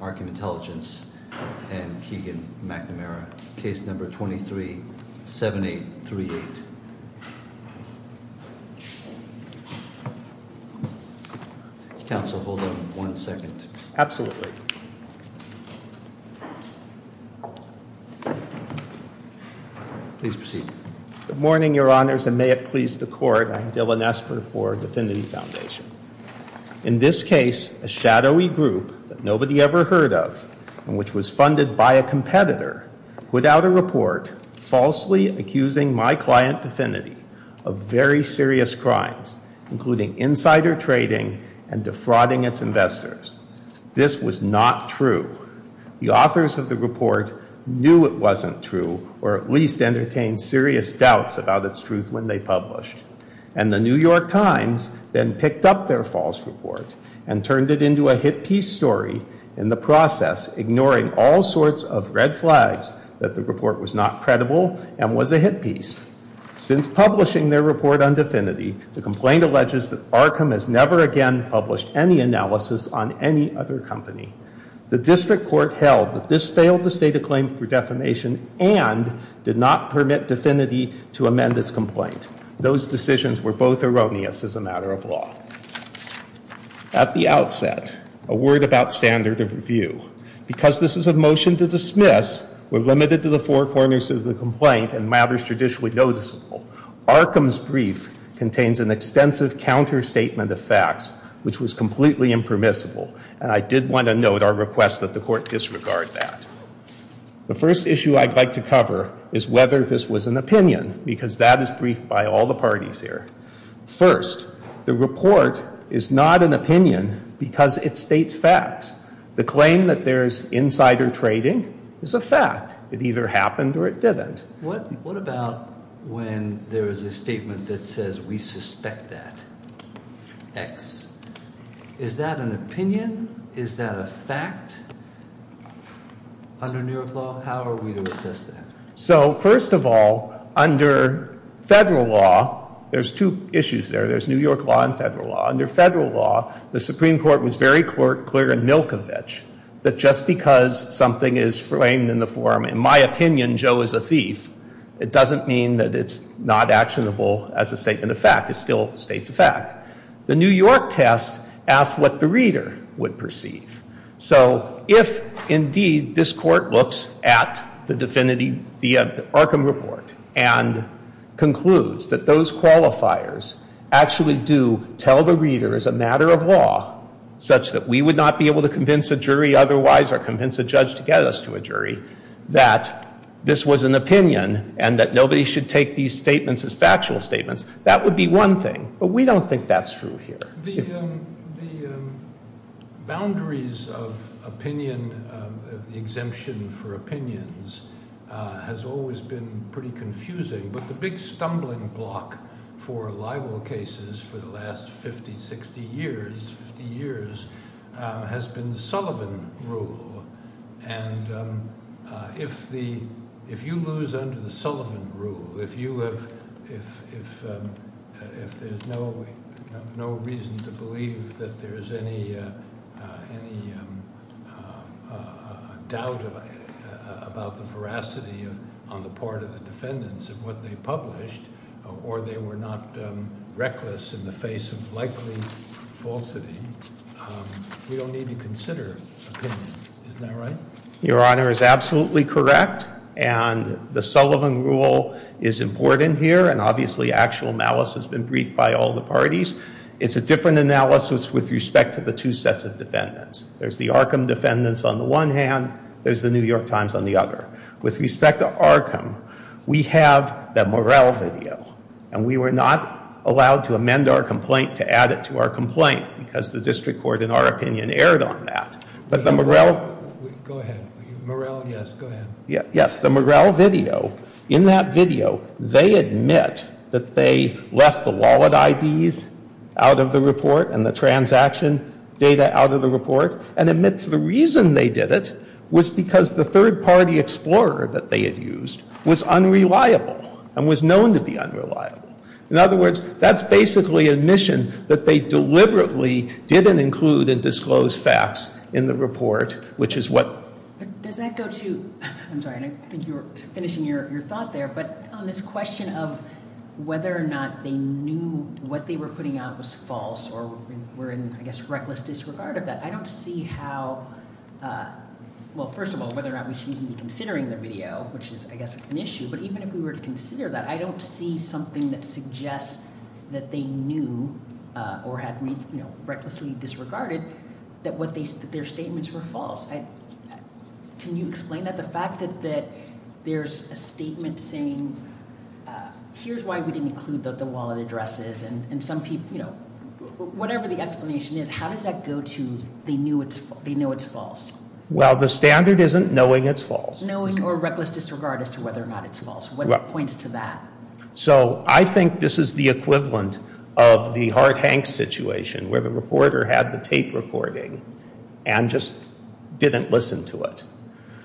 Arkham Intelligence and Keegan McNamara. Case number 237838. Counsel, hold on one second. Absolutely. Please proceed. Good morning, Your Honors, and may it please the Court. I'm Dylan Esper for Dfinity Foundation. In this case, a shadowy group that nobody ever heard of, and which was funded by a competitor, put out a report falsely accusing my client Dfinity of very serious crimes, including insider trading and defrauding its investors. This was not true. The authors of the report knew it wasn't true, or at least entertained serious doubts about its truth when they published. And the New York Times then picked up their false report and turned it into a hit piece story in the process, ignoring all sorts of red flags that the report was not credible and was a hit piece. Since publishing their report on Dfinity, the complaint alleges that Arkham has never again published any analysis on any other company. The district court held that this failed to state a claim for defamation and did not permit Dfinity to amend its complaint. Those decisions were both erroneous as a matter of law. At the outset, a word about standard of review. Because this is a motion to dismiss, we're limited to the four corners of the complaint and matters traditionally noticeable. Arkham's brief contains an extensive counter-statement of facts, which was completely impermissible. And I did want to note our request that the court disregard that. The first issue I'd like to cover is whether this was an opinion, because that is briefed by all the parties here. First, the report is not an opinion because it states facts. The claim that there is insider trading is a fact. It either happened or it didn't. What about when there is a statement that says we suspect that. X. Is that an opinion? Is that a fact? Under New York law, how are we to assess that? So, first of all, under federal law, there's two issues there. There's New York law and federal law. Under federal law, the Supreme Court was very clear in Milkovich that just because something is framed in the form, in my opinion, Joe is a thief, it doesn't mean that it's not actionable as a statement of fact. It still states a fact. The New York test asked what the reader would perceive. So, if indeed this court looks at the definitive Arkham report and concludes that those qualifiers actually do tell the reader as a matter of law, such that we would not be able to convince a jury otherwise or convince a judge to get us to a jury, that this was an opinion and that nobody should take these statements as factual statements, that would be one thing. But we don't think that's true here. The boundaries of opinion, of the exemption for opinions, has always been pretty confusing. But the big stumbling block for libel cases for the last 50, 60 years, has been the Sullivan Rule. And if you lose under the Sullivan Rule, if there's no reason to believe that there's any doubt about the veracity on the part of the defendants of what they published, or they were not reckless in the face of likely falsity, we don't need to consider opinion. Isn't that right? Your Honor is absolutely correct, and the Sullivan Rule is important here, and obviously actual malice has been briefed by all the parties. It's a different analysis with respect to the two sets of defendants. There's the Arkham defendants on the one hand, there's the New York Times on the other. With respect to Arkham, we have the Morrell video, and we were not allowed to amend our complaint to add it to our complaint, because the District Court, in our opinion, erred on that. But the Morrell, yes, the Morrell video, in that video, they admit that they left the wallet IDs out of the report and the transaction data out of the report, and admits the reason they did it was because the third-party explorer that they had used was unreliable and was known to be unreliable. In other words, that's basically admission that they deliberately didn't include and disclose facts in the report, which is what... Does that go to, I'm sorry, I think you were finishing your thought there, but on this question of whether or not they knew what they were putting out was false, or were in, I guess, reckless disregard of that, I don't see how, well, first of all, whether or not we should even be considering the video, which is, I guess, an issue, but even if we were to consider that, I don't see something that suggests that they knew, or had recklessly disregarded, that their statements were false. Can you explain that? The fact that there's a statement saying here's why we didn't include the wallet addresses, and some people, you know, whatever the explanation is, how does that go to they knew it's false? Well, the standard isn't knowing it's false. Knowing or reckless disregard as to whether or not it's false, what points to that? So, I think this is the equivalent of the Hart-Hanks situation, where the reporter had the tape recording, and just didn't listen to it.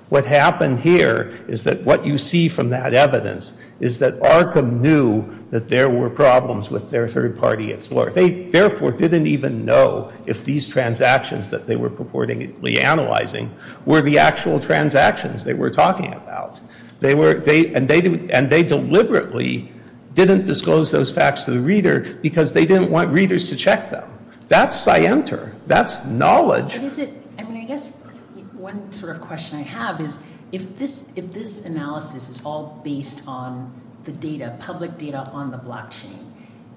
What happened here is that what you see from that evidence is that Arkham knew that there were problems with their third-party explorer. They, therefore, didn't even know if these transactions that they were purportedly analyzing were the actual transactions they were talking about. And they deliberately didn't disclose those facts to the reader because they didn't want readers to check them. That's scienter. That's knowledge. I guess one sort of question I have is, if this analysis is all based on the data, public data on the blockchain,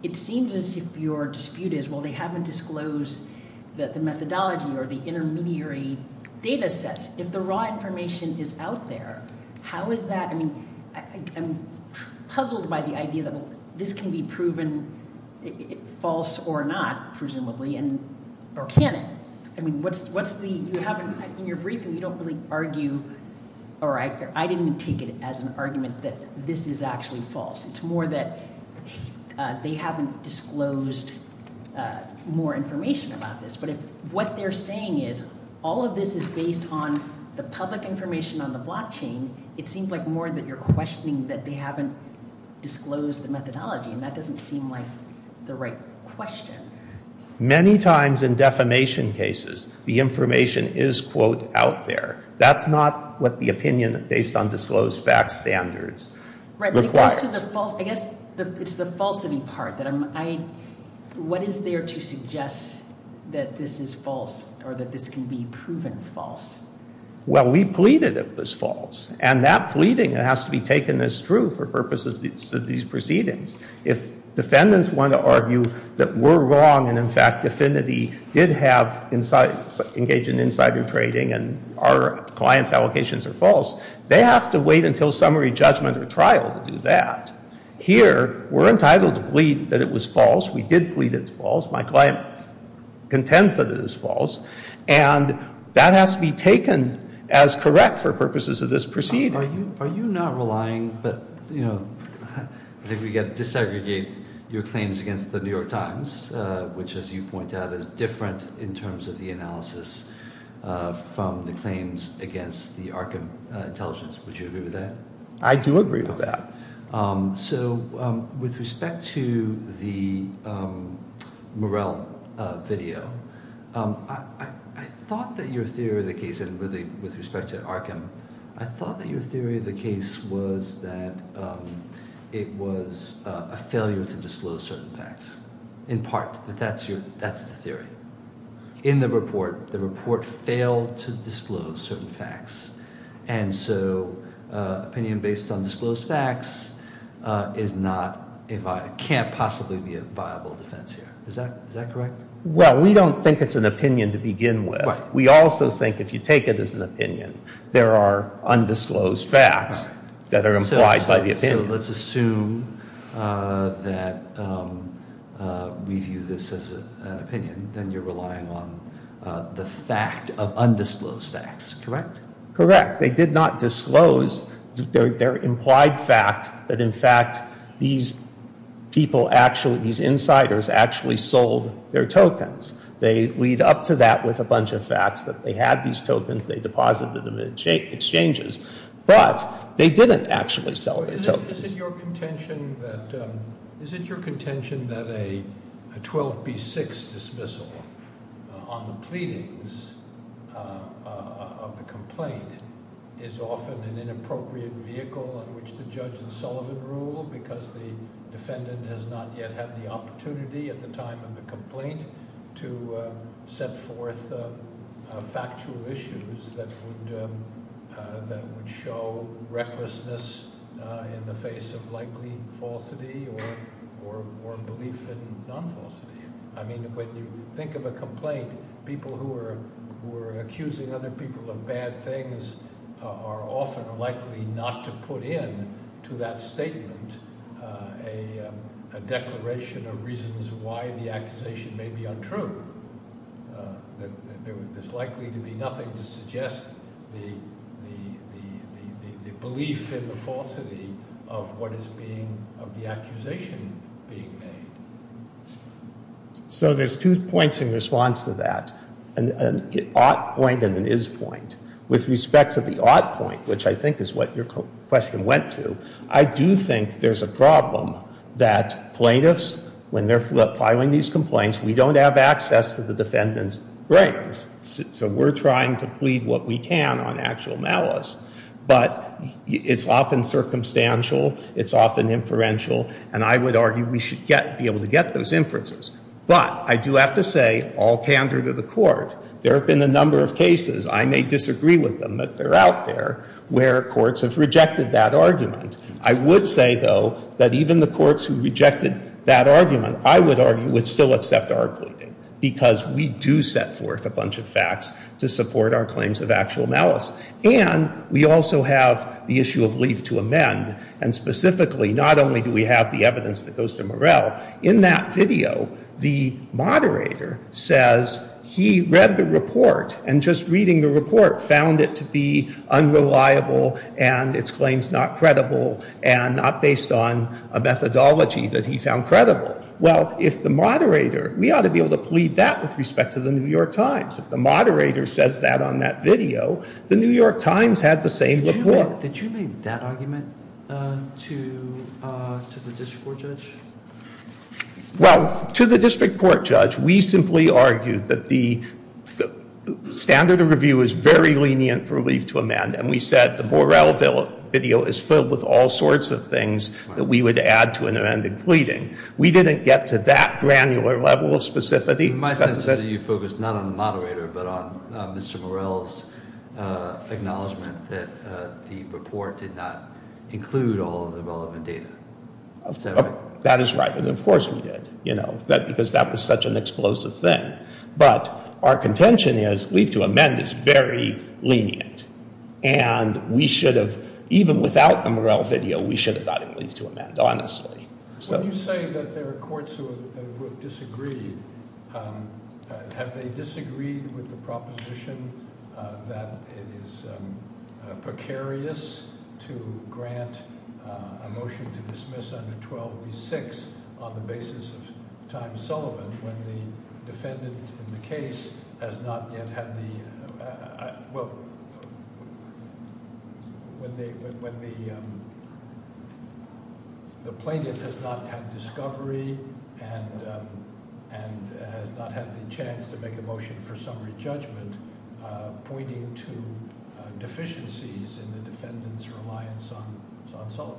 it seems as if your dispute is, well, they haven't disclosed the methodology or the intermediary data sets. If the raw information is out there, how is that? I mean, I'm puzzled by the idea that this can be proven false or not, presumably, or can it? I mean, what's the... In your briefing, you don't really argue, or I didn't take it as an argument that this is actually false. It's more that they haven't disclosed more information about this. But if what they're saying is, all of this is based on the public information on the blockchain, it seems like more that you're questioning that they haven't disclosed the methodology. And that doesn't seem like the right question. Many times in defamation cases, the information is quote, out there. That's not what the opinion based on disclosed facts standards requires. I guess it's the falsity part. What is there to suggest that this is false or that this can be proven false? Well, we pleaded it was false. And that pleading has to be taken as true for purposes of these proceedings. If defendants want to argue that we're wrong and, in fact, DFINITY did engage in insider trading and our client's allocations are false, they have to wait until summary judgment or trial to do that. Here, we're entitled to plead that it was false. We did plead it's false. My client contends that it is false. And that has to be taken as correct for purposes of this proceeding. Are you not relying? But, you know, I think we've got to disaggregate your claims against the New York Times, which, as you point out, is different in terms of the analysis from the claims against the Arkham Intelligence. Would you agree with that? I do agree with that. So, with respect to the Morrell video, I thought that your theory of the case, and really with respect to Arkham, I thought that your theory of the case was that it was a failure to disclose certain facts. In part, that that's the theory. In the report, the report failed to disclose certain facts. And so, opinion based on disclosed facts is not, can't possibly be a viable defense here. Is that correct? Well, we don't think it's an opinion to begin with. We also think if you take it as an opinion, there are undisclosed facts that are implied by the opinion. So, let's assume that we view this as an opinion, then you're relying on the fact of undisclosed facts, correct? Correct. They did not disclose their implied fact that, in fact, these people actually, these insiders actually sold their tokens. They lead up to that with a bunch of facts that they had these tokens, they deposited them in exchanges. But, they didn't actually sell their tokens. Is it your contention that a 12B6 dismissal on the pleadings of the complaint is often an inappropriate vehicle on which to judge the Sullivan Rule because the defendant has not yet had the opportunity at the time of the complaint to set forth factual issues that would show recklessness in the face of likely falsity or belief in non-falsity. I mean, when you think of a complaint, people who are accusing other people of bad things are often likely not to put in to that statement a declaration of reasons why the accusation may be untrue. There's likely to be nothing to suggest the belief in the falsity of what is being, of the accusation being made. So, there's two points in response to that. An ought point and an is point. With respect to the ought point, which I think is what your question went to, I do think there's a problem that plaintiffs, when they're filing these complaints, we don't have access to the defendant's brains. So, we're trying to plead what we can on actual malice. But, it's often circumstantial, it's often inferential, and I would argue we should be able to get those inferences. But, I do have to say, all candor to the court, there have been a number of cases, I may disagree with them, but they're out there, where courts have rejected that argument. I would say, though, that even the courts who rejected that argument, I would argue, would still accept our pleading. Because we do set forth a bunch of facts to support our claims of actual malice. And, we also have the issue of leave to amend. And, specifically, not only do we have the evidence that goes to Morrell, in that video, the moderator says he read the report and, just reading the report, found it to be unreliable and its claims not credible and not based on a methodology that he found credible. Well, if the moderator, we ought to be able to plead that with respect to the New York Times. If the moderator says that on that video, the New York Times had the same report. Did you make that argument to the district court judge? Well, to the district court judge, we simply argued that the standard of review is very lenient for leave to amend. And, we said the Morrell video is filled with all sorts of things that we would add to an amended pleading. We didn't get to that granular level of specificity. In my sense, you focused not on the moderator, but on Mr. Morrell's acknowledgment that the report did not include all of the relevant data. That is right. And, of course, we did. Because that was such an explosive thing. But, our contention is leave to amend is very lenient. And, we should have, even without the Morrell video, we should have gotten leave to amend, honestly. When you say that there are courts who have disagreed, have they disagreed with the proposition that it is precarious to grant a motion to dismiss under 12b-6 on the basis of time solvent when the defendant in the case has not yet had the, well, when the plaintiff has not had discovery and has not had the chance to make a motion for summary judgment pointing to deficiencies in the defendant's reliance on solvent?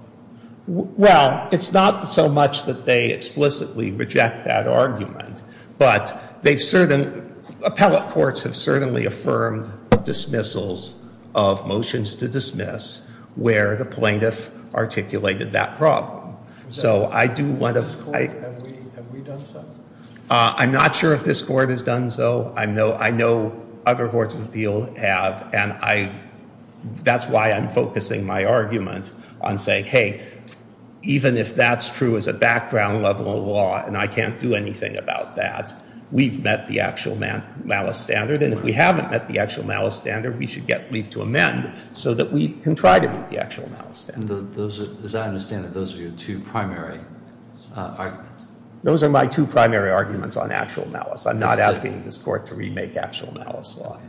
Well, it's not so much that they explicitly reject that argument, but they've certainly, appellate courts have certainly affirmed dismissals of motions to dismiss where the plaintiff articulated that problem. So, I do want to... Have we done so? I'm not sure if this Court has done so. I know other Courts of Appeal have, and that's why I'm focusing my argument on saying, hey, even if that's true as a background level of law, and I can't do anything about that, we've met the actual malice standard. And, if we haven't met the actual malice standard, we should get leave to amend so that we can try to meet the actual malice standard. As I understand it, those are your two primary arguments. Those are my two primary arguments on actual malice. I'm not asking this Court to remake actual malice law.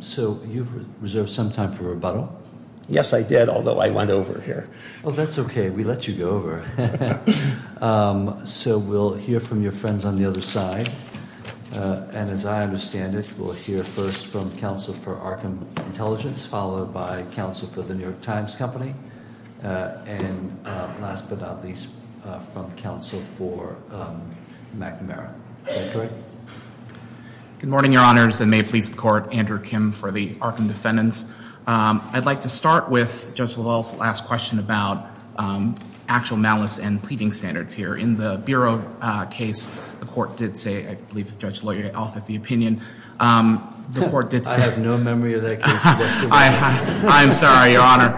So, you've reserved some time for rebuttal? Yes, I did, although I went over here. Well, that's okay. We let you go over. So, we'll hear from your friends on the other side. And, as I understand it, we'll hear first from Counsel for Arkham Intelligence, followed by Counsel for the New York Times Company, and last but not least, from Counsel for McNamara. Is that correct? Good morning, Your Honors, and may it please the Court. Andrew Kim for the Arkham Defendants. I'd like to start with Judge Lavelle's last question about actual malice and pleading standards here. In the Bureau case, the Court did say, I believe Judge Lavelle offered the opinion. I have no memory of that case whatsoever. I'm sorry, Your Honor.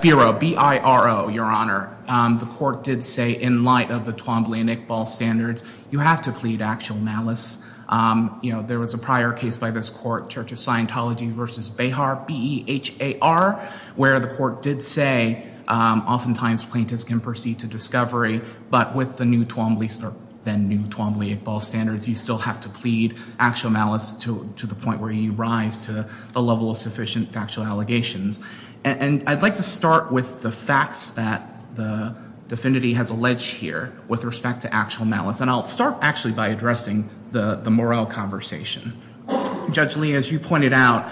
Bureau, B-I-R-O, Your Honor. The Court did say, in light of the Twombly and Iqbal standards, you have to plead actual malice. You know, there was a prior case by this Court, Church of Scientology v. Behar, B-E-H-A-R, where the Court did say, oftentimes plaintiffs can proceed to discovery, but with the new Twombly and Iqbal standards, you still have to plead actual malice to the point where you rise to a level of sufficient factual allegations. And I'd like to start with the facts that the Defendant has alleged here with respect to actual malice. And I'll start actually by addressing the Morrell conversation. Judge Lee, as you pointed out,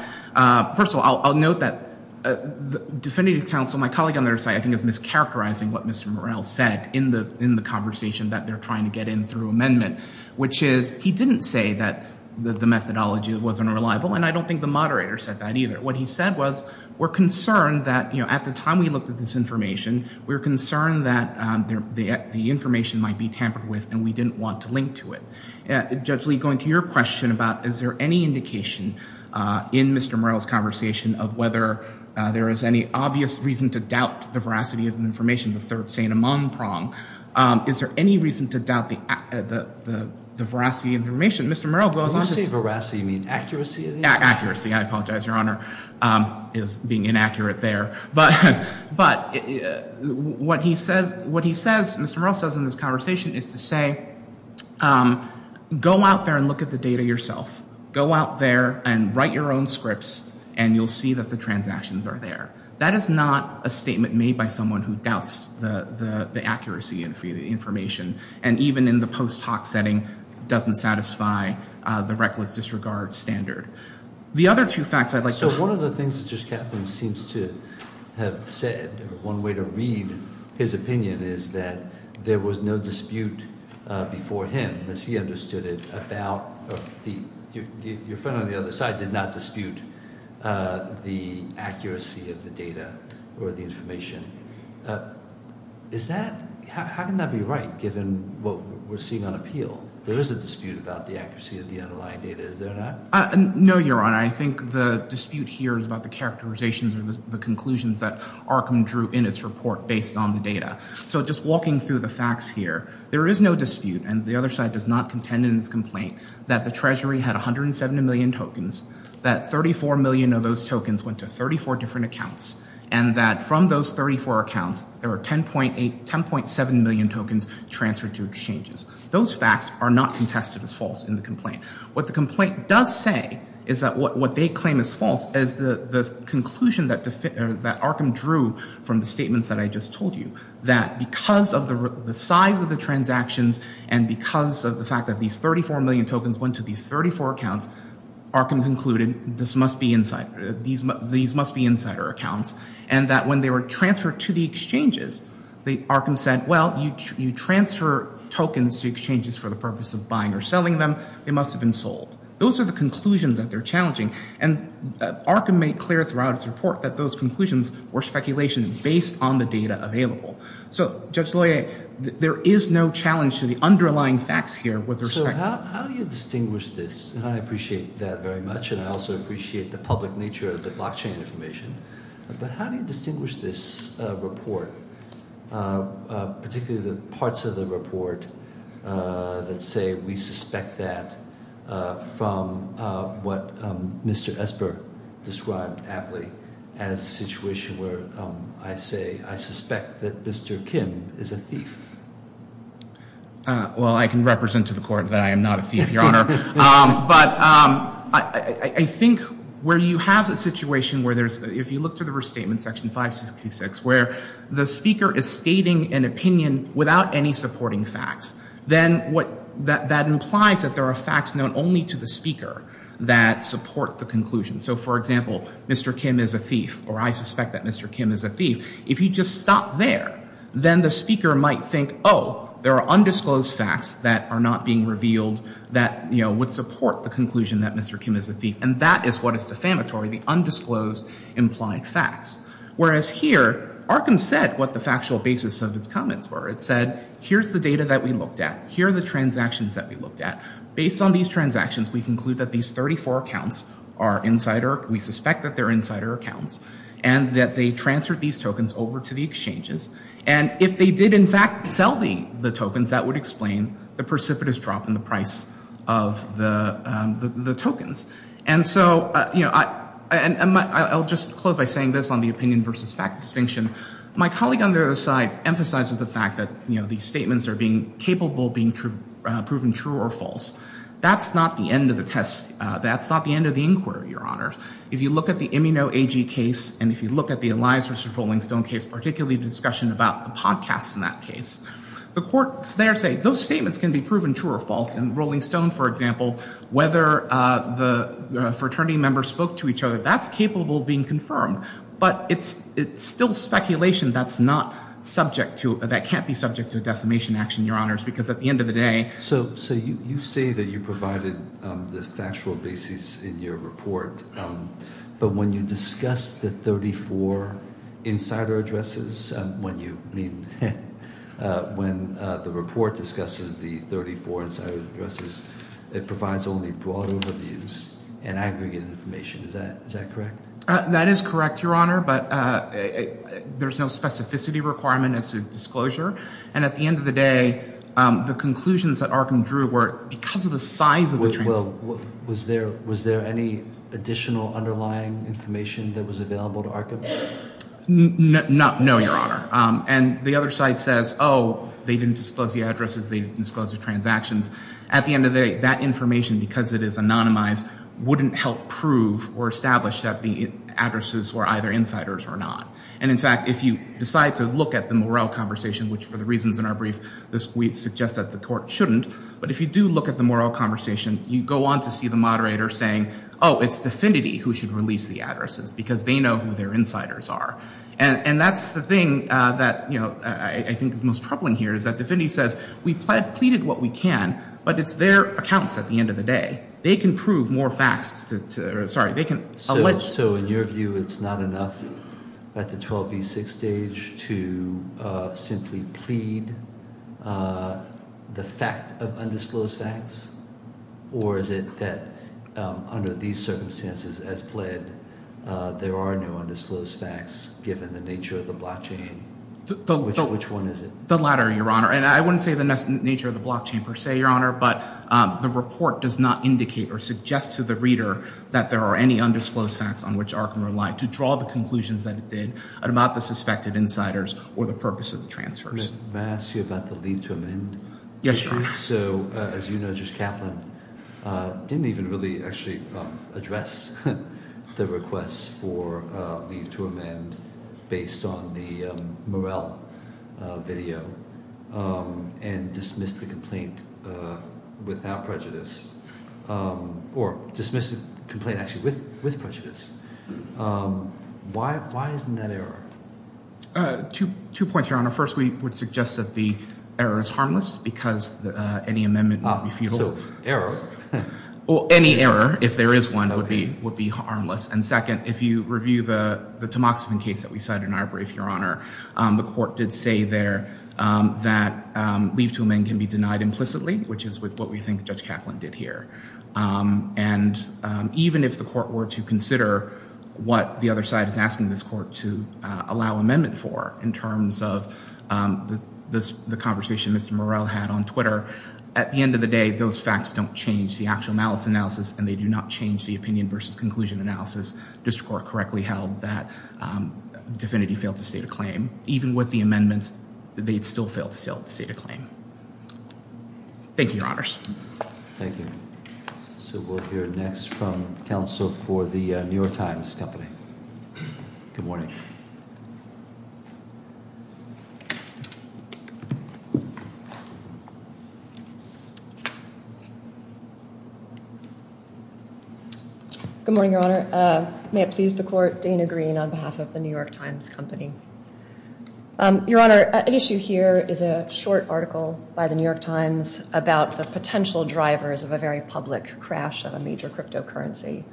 first of all, I'll note that the Defendant's counsel, my colleague on the other side, I think is mischaracterizing what Mr. Morrell said in the conversation that they're trying to get in through amendment, which is he didn't say that the methodology wasn't reliable. And I don't think the moderator said that either. What he said was, we're concerned that at the time we looked at this information, we were concerned that the information might be tampered with and we didn't want to link to it. Judge Lee, going to your question about is there any indication in Mr. Morrell's conversation of whether there is any obvious reason to doubt the veracity of the information, the third sane among prong, is there any reason to doubt the veracity of the information? Mr. Morrell goes on to say... When you say veracity, you mean accuracy of the information? Accuracy. I apologize, Your Honor. It was being inaccurate there. But what he says, Mr. Morrell says in this conversation is to say, go out there and look at the data yourself. Go out there and write your own scripts and you'll see that the transactions are there. That is not a statement made by someone who doubts the accuracy of the information. And even in the post hoc setting, doesn't satisfy the reckless disregard standard. The other two facts I'd like to... So one of the things that Judge Kaplan seems to have said, one way to read his opinion is that there was no dispute before him, as he understood it, about... Your friend on the other side did not dispute the accuracy of the data or the information. Is that... How can that be right, given what we're seeing on appeal? There is a dispute about the accuracy of the underlying data, is there not? No, Your Honor. I think the dispute here is about the characterizations or the conclusions that Arkham drew in its report based on the data. So just walking through the facts here, there is no dispute, and the other side does not contend in its complaint, that the Treasury had 107 million tokens, that 34 million of those tokens went to 34 different accounts, and that from those 34 accounts, there were 10.7 million tokens transferred to exchanges. Those facts are not contested as false in the complaint. What the complaint does say is that what they claim is false is the conclusion that Arkham drew from the statements that I just told you, that because of the size of the transactions and because of the fact that these 34 million tokens went to these 34 accounts, Arkham concluded this must be insider... These must be insider accounts, and that when they were transferred to the exchanges, Arkham said, well, you transfer tokens to exchanges for the purpose of buying or selling them, they must have been sold. Those are the conclusions that they're challenging, and Arkham made clear throughout its report that those conclusions were speculation based on the data available. So Judge Loyer, there is no challenge to the underlying facts here with respect to... So how do you distinguish this? And I appreciate that very much, and I also appreciate the public nature of the blockchain information, but how do you distinguish this report, particularly the parts of the report that say we suspect that from what Mr. Esper described aptly as a situation where I say I suspect that Mr. Kim is a thief? Well, I can represent to the court that I am not a thief, Your Honor. But I think where you have a situation where there's... If you look to the restatement, Section 566, where the speaker is stating an opinion without any supporting facts, then that implies that there are facts known only to the speaker that support the conclusion. So, for example, Mr. Kim is a thief, or I suspect that Mr. Kim is a thief. If you just stop there, then the speaker might think, oh, there are undisclosed facts that are not being revealed that would support the conclusion that Mr. Kim is a thief, and that is what is defamatory, the undisclosed implied facts. Whereas here, Arkham said what the factual basis of its comments were. It said, here's the data that we looked at. Here are the transactions that we looked at. Based on these transactions, we conclude that these 34 accounts are insider. We suspect that they're insider accounts, and that they transferred these tokens over to the exchanges. And if they did, in fact, sell the tokens, that would explain the precipitous drop in the price of the tokens. And so, you know, I'll just close by saying this on the opinion versus fact distinction. My colleague on the other side emphasizes the fact that, you know, these statements are capable of being proven true or false. That's not the end of the test. That's not the end of the inquiry, Your Honor. If you look at the Immuno AG case, and if you look at the Elias versus Rolling Stone case, particularly the discussion about the podcasts in that case, the courts there say those statements can be proven true or false. In Rolling Stone, for example, whether the fraternity members spoke to each other, that's capable of being confirmed. But it's still speculation that's not subject to – that can't be subject to a defamation action, Your Honors, because at the end of the day – So you say that you provided the factual basis in your report. But when you discuss the 34 insider addresses, when you – I mean, when the report discusses the 34 insider addresses, it provides only broad overviews and aggregate information. Is that correct? That is correct, Your Honor, but there's no specificity requirement as to disclosure. And at the end of the day, the conclusions that Arkham drew were because of the size of the – Well, was there any additional underlying information that was available to Arkham? No, Your Honor. And the other side says, oh, they didn't disclose the addresses, they disclosed the transactions. At the end of the day, that information, because it is anonymized, wouldn't help prove or establish that the addresses were either insiders or not. And in fact, if you decide to look at the Morrell conversation, which for the reasons in our brief, we suggest that the court shouldn't. But if you do look at the Morrell conversation, you go on to see the moderator saying, oh, it's D'Affinity who should release the addresses because they know who their insiders are. And that's the thing that, you know, I think is most troubling here is that D'Affinity says we pleaded what we can, but it's their accounts at the end of the day. They can prove more facts to – sorry, they can – So in your view, it's not enough at the 12B6 stage to simply plead the fact of undisclosed facts? Or is it that under these circumstances as pled, there are no undisclosed facts given the nature of the blockchain? Which one is it? I wouldn't say the nature of the blockchain per se, Your Honor, but the report does not indicate or suggest to the reader that there are any undisclosed facts on which Arkham relied to draw the conclusions that it did about the suspected insiders or the purpose of the transfers. May I ask you about the leave to amend issue? Yes, Your Honor. So as you know, Judge Kaplan didn't even really actually address the request for leave to amend based on the Morrell video and dismissed the complaint without prejudice or dismissed the complaint actually with prejudice. Why isn't that error? Two points, Your Honor. First, we would suggest that the error is harmless because any amendment would be futile. Error? Well, any error, if there is one, would be harmless. And second, if you review the Tamoxifen case that we cited in our brief, Your Honor, the court did say there that leave to amend can be denied implicitly, which is what we think Judge Kaplan did here. And even if the court were to consider what the other side is asking this court to allow amendment for in terms of the conversation Mr. Morrell had on Twitter, at the end of the day, those facts don't change the actual malice analysis, and they do not change the opinion versus conclusion analysis. District Court correctly held that DFINITY failed to state a claim. Even with the amendment, they'd still fail to state a claim. Thank you, Your Honors. Thank you. So we'll hear next from counsel for the New York Times Company. Good morning. Good morning, Your Honor. May it please the court, Dana Green on behalf of the New York Times Company. Your Honor, an issue here is a short article by the New York Times about the potential drivers of a very public crash of a major cryptocurrency.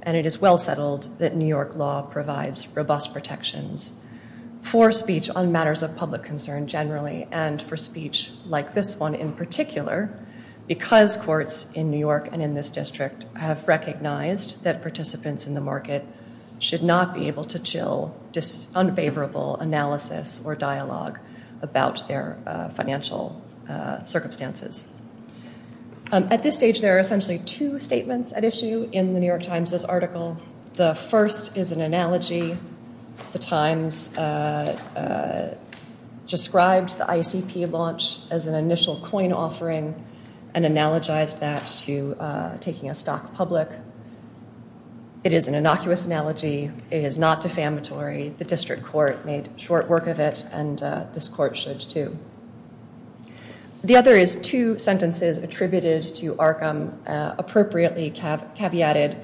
And it is well settled that New York law provides robust protections for speech on matters of public concern generally, and for speech like this one in particular, because courts in New York and in this district have recognized that participants in the market should not be able to chill unfavorable analysis or dialogue about their financial circumstances. At this stage, there are essentially two statements at issue in the New York Times' article. The first is an analogy. The Times described the ICP launch as an initial coin offering and analogized that to taking a stock public. It is an innocuous analogy. It is not defamatory. The district court made short work of it, and this court should, too. The other is two sentences attributed to Arkham appropriately caveated,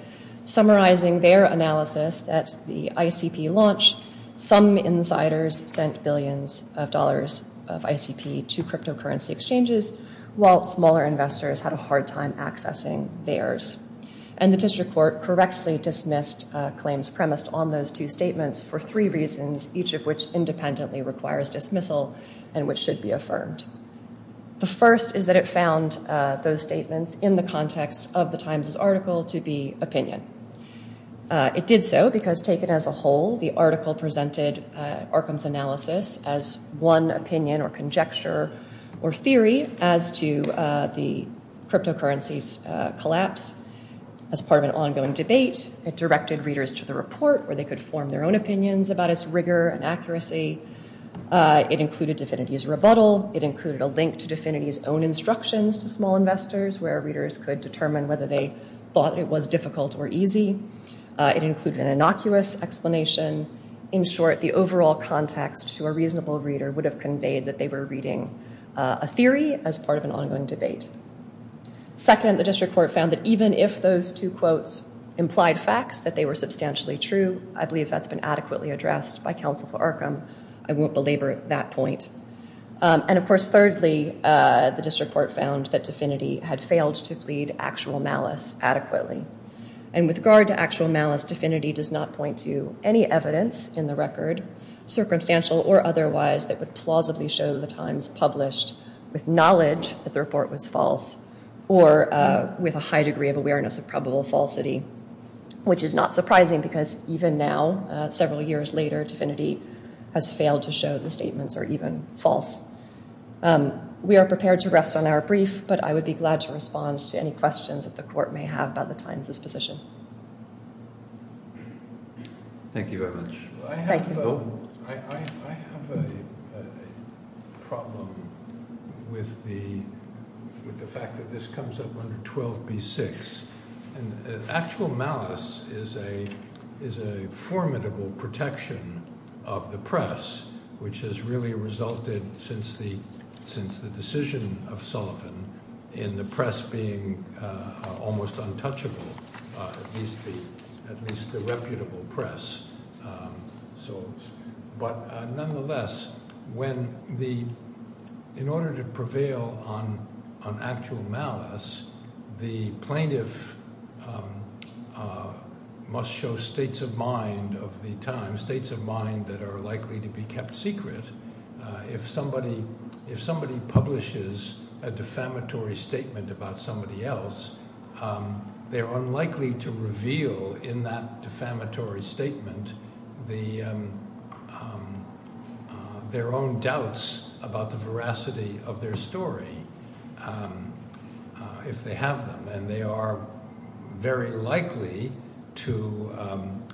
summarizing their analysis that the ICP launch, some insiders sent billions of dollars of ICP to cryptocurrency exchanges, while smaller investors had a hard time accessing theirs. And the district court correctly dismissed claims premised on those two statements for three reasons, each of which independently requires dismissal and which should be affirmed. The first is that it found those statements in the context of the Times' article to be opinion. It did so because taken as a whole, the article presented Arkham's analysis as one opinion or conjecture or theory as to the cryptocurrency's collapse. As part of an ongoing debate, it directed readers to the report where they could form their own opinions about its rigor and accuracy. It included DFINITY's rebuttal. It included a link to DFINITY's own instructions to small investors where readers could determine whether they thought it was difficult or easy. It included an innocuous explanation. In short, the overall context to a reasonable reader would have conveyed that they were reading a theory as part of an ongoing debate. Second, the district court found that even if those two quotes implied facts, that they were substantially true. I believe that's been adequately addressed by counsel for Arkham. I won't belabor that point. And of course, thirdly, the district court found that DFINITY had failed to plead actual malice adequately. And with regard to actual malice, DFINITY does not point to any evidence in the record, circumstantial or otherwise, that would plausibly show the Times published with knowledge that the report was false or with a high degree of awareness of probable falsity. Which is not surprising because even now, several years later, DFINITY has failed to show the statements are even false. We are prepared to rest on our brief, but I would be glad to respond to any questions that the court may have about the Times' position. Thank you very much. Thank you. I have a problem with the fact that this comes up under 12B6. And actual malice is a formidable protection of the press, which has really resulted since the decision of Sullivan in the press being almost untouchable, at least the reputable press. But nonetheless, in order to prevail on actual malice, the plaintiff must show states of mind of the Times, states of mind that are likely to be kept secret. If somebody publishes a defamatory statement about somebody else, they're unlikely to reveal in that defamatory statement their own doubts about the veracity of their story, if they have them. And they are very likely to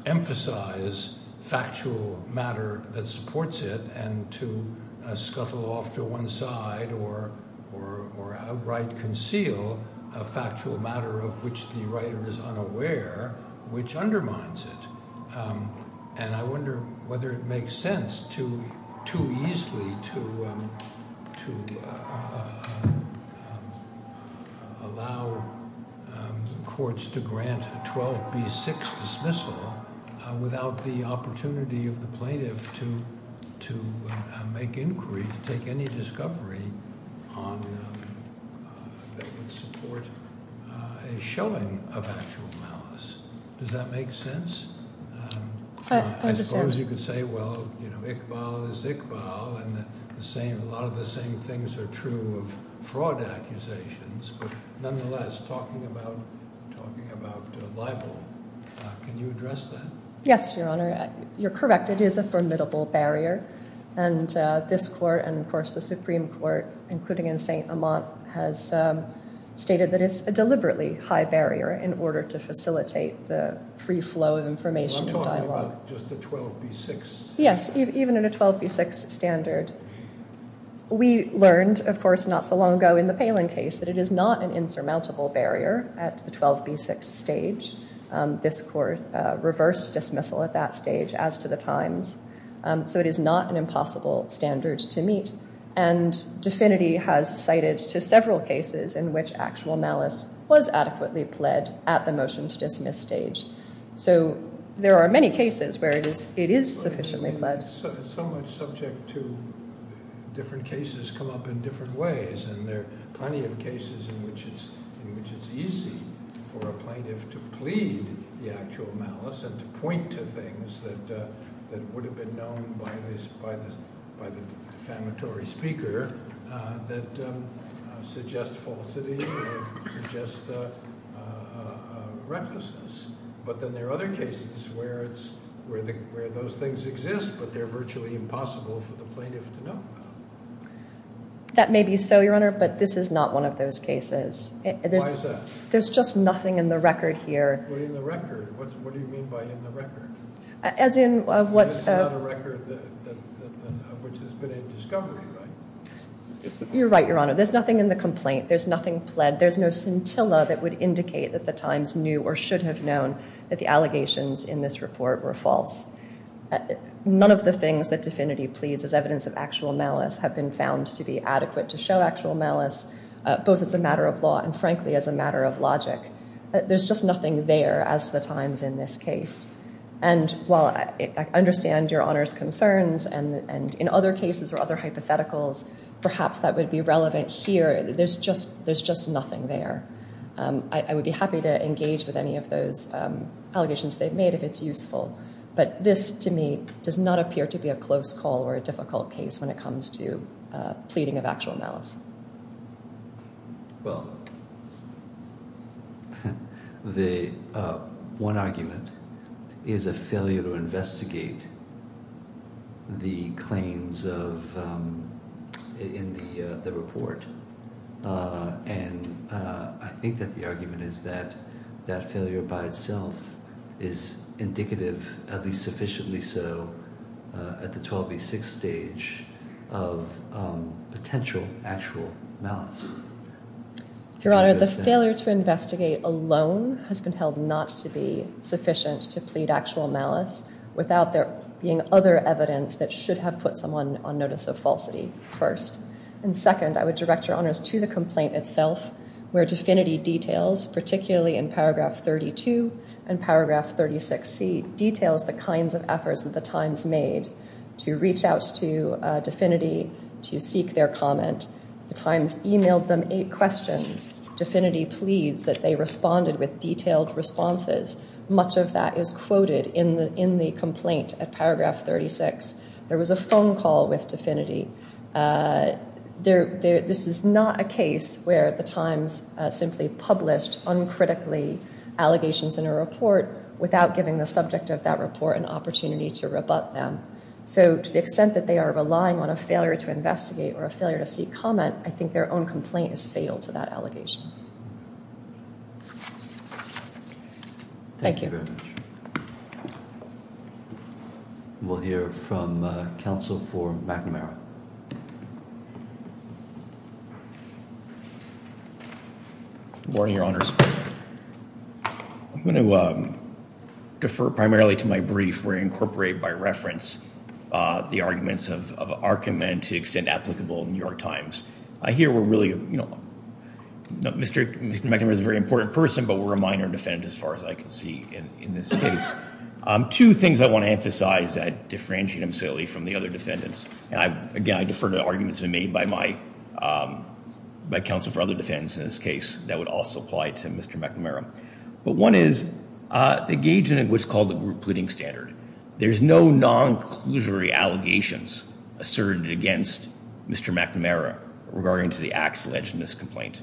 emphasize factual matter that supports it and to scuttle off to one side or outright conceal a factual matter of which the writer is unaware, which undermines it. And I wonder whether it makes sense too easily to allow courts to grant a 12B6 dismissal without the opportunity of the plaintiff to make inquiry, to take any discovery that would support a showing of actual malice. Does that make sense? As far as you could say, well, you know, Iqbal is Iqbal, and a lot of the same things are true of fraud accusations. But nonetheless, talking about libel, can you address that? Yes, Your Honor. You're correct. It is a formidable barrier. And this court and, of course, the Supreme Court, including in St. Amant, has stated that it's a deliberately high barrier in order to facilitate the free flow of information and dialogue. I'm talking about just the 12B6? Yes, even at a 12B6 standard. We learned, of course, not so long ago in the Palin case that it is not an insurmountable barrier at the 12B6 stage. This court reversed dismissal at that stage, as to the Times. So it is not an impossible standard to meet. And DFINITY has cited to several cases in which actual malice was adequately pled at the motion to dismiss stage. So there are many cases where it is sufficiently pled. So much subject to different cases come up in different ways. And there are plenty of cases in which it's easy for a plaintiff to plead the actual malice and to point to things that would have been known by the defamatory speaker that suggest falsity or suggest recklessness. But then there are other cases where those things exist, but they're virtually impossible for the plaintiff to know about. That may be so, Your Honor, but this is not one of those cases. Why is that? There's just nothing in the record here. What do you mean by in the record? As in what's... This is not a record which has been in discovery, right? You're right, Your Honor. There's nothing in the complaint. There's nothing pled. There's no scintilla that would indicate that the times knew or should have known that the allegations in this report were false. None of the things that DFINITY pleads as evidence of actual malice have been found to be adequate to show actual malice, both as a matter of law and, frankly, as a matter of logic. There's just nothing there as to the times in this case. And while I understand Your Honor's concerns and in other cases or other hypotheticals, perhaps that would be relevant here, there's just nothing there. I would be happy to engage with any of those allegations they've made if it's useful. But this, to me, does not appear to be a close call or a difficult case when it comes to pleading of actual malice. Well, the one argument is a failure to investigate the claims in the report. And I think that the argument is that that failure by itself is indicative, at least sufficiently so, at the 12B6 stage of potential actual malice. Your Honor, the failure to investigate alone has been held not to be sufficient to plead actual malice without there being other evidence that should have put someone on notice of falsity first. And second, I would direct Your Honors to the complaint itself, where DeFinity details, particularly in paragraph 32 and paragraph 36C, details the kinds of efforts that the Times made to reach out to DeFinity to seek their comment. The Times emailed them eight questions. DeFinity pleads that they responded with detailed responses. Much of that is quoted in the complaint at paragraph 36. There was a phone call with DeFinity. This is not a case where the Times simply published uncritically allegations in a report without giving the subject of that report an opportunity to rebut them. So to the extent that they are relying on a failure to investigate or a failure to seek comment, I think their own complaint is fatal to that allegation. Thank you. Thank you very much. We'll hear from counsel for McNamara. Good morning, Your Honors. I'm going to defer primarily to my brief where I incorporate by reference the arguments of Arkham and to the extent applicable in New York Times. I hear we're really, you know, Mr. McNamara is a very important person, but we're a minor defendant as far as I can see in this case. Two things I want to emphasize that differentiate him solely from the other defendants. Again, I defer to arguments made by my counsel for other defendants in this case that would also apply to Mr. McNamara. But one is engaging in what's called the group pleading standard. There's no non-conclusory allegations asserted against Mr. McNamara regarding to the acts alleged in this complaint.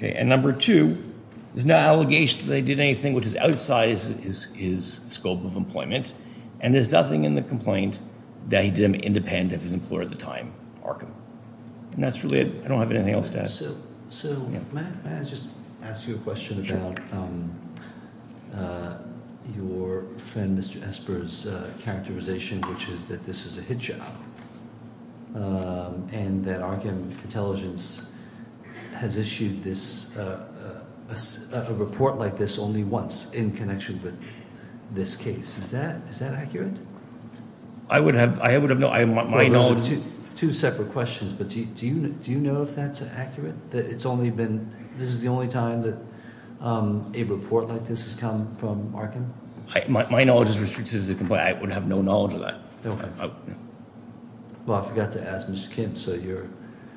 And number two, there's no allegations that he did anything which is outside his scope of employment, and there's nothing in the complaint that he did independent of his employer at the time, Arkham. And that's really it. I don't have anything else to add. So may I just ask you a question about your friend Mr. Esper's characterization, which is that this is a hit job, and that Arkham Intelligence has issued a report like this only once in connection with this case. Is that accurate? I would have known. Those are two separate questions, but do you know if that's accurate? That it's only been, this is the only time that a report like this has come from Arkham? My knowledge is restricted to the complaint. I would have no knowledge of that. Well, I forgot to ask Mr. Kemp, so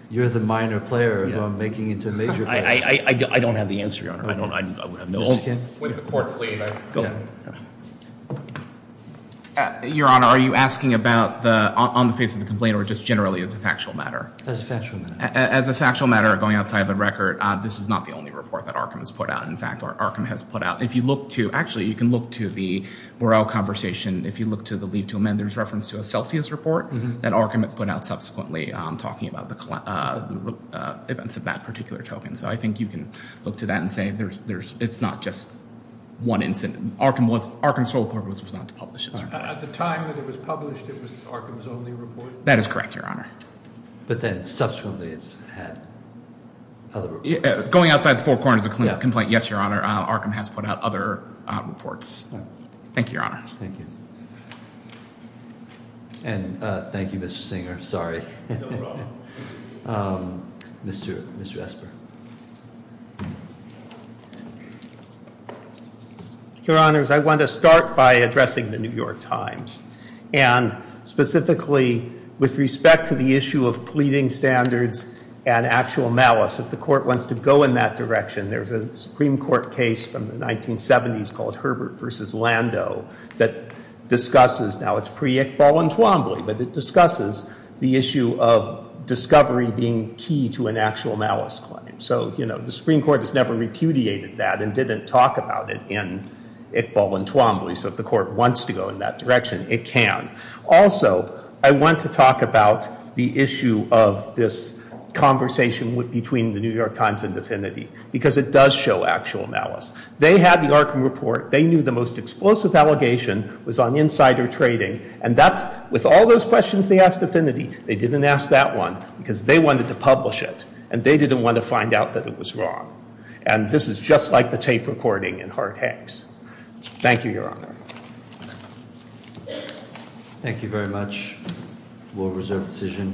you're the minor player who I'm making into a major player. I don't have the answer, Your Honor. Mr. Kemp? With the court's leave, I can go. Your Honor, are you asking about the, on the face of the complaint, or just generally as a factual matter? As a factual matter. As a factual matter, going outside the record, this is not the only report that Arkham has put out. In fact, Arkham has put out, if you look to, actually you can look to the Moreau conversation, if you look to the leave to amend, there's reference to a Celsius report that Arkham put out subsequently talking about the events of that particular token. So I think you can look to that and say it's not just one incident. Arkham's sole purpose was not to publish it. At the time that it was published, it was Arkham's only report? That is correct, Your Honor. But then subsequently it's had other reports? Going outside the four corners of the complaint, yes, Your Honor. Arkham has put out other reports. Thank you, Your Honor. Thank you. And thank you, Mr. Singer. Sorry. No problem. Mr. Esper. Your Honors, I want to start by addressing the New York Times, and specifically with respect to the issue of pleading standards and actual malice. If the Court wants to go in that direction, there's a Supreme Court case from the 1970s called Herbert v. Lando that discusses, now it's pre-Iqbal and Twombly, but it discusses the issue of discovery being key to an actual malice claim. So, you know, the Supreme Court has never repudiated that and didn't talk about it in Iqbal and Twombly. So if the Court wants to go in that direction, it can. Also, I want to talk about the issue of this conversation between the New York Times and Divinity, because it does show actual malice. They had the Arkham report. They knew the most explosive allegation was on insider trading. And that's – with all those questions they asked Divinity, they didn't ask that one because they wanted to publish it, and they didn't want to find out that it was wrong. And this is just like the tape recording in Hart-Hanks. Thank you, Your Honor. Thank you very much, World Reserve decision.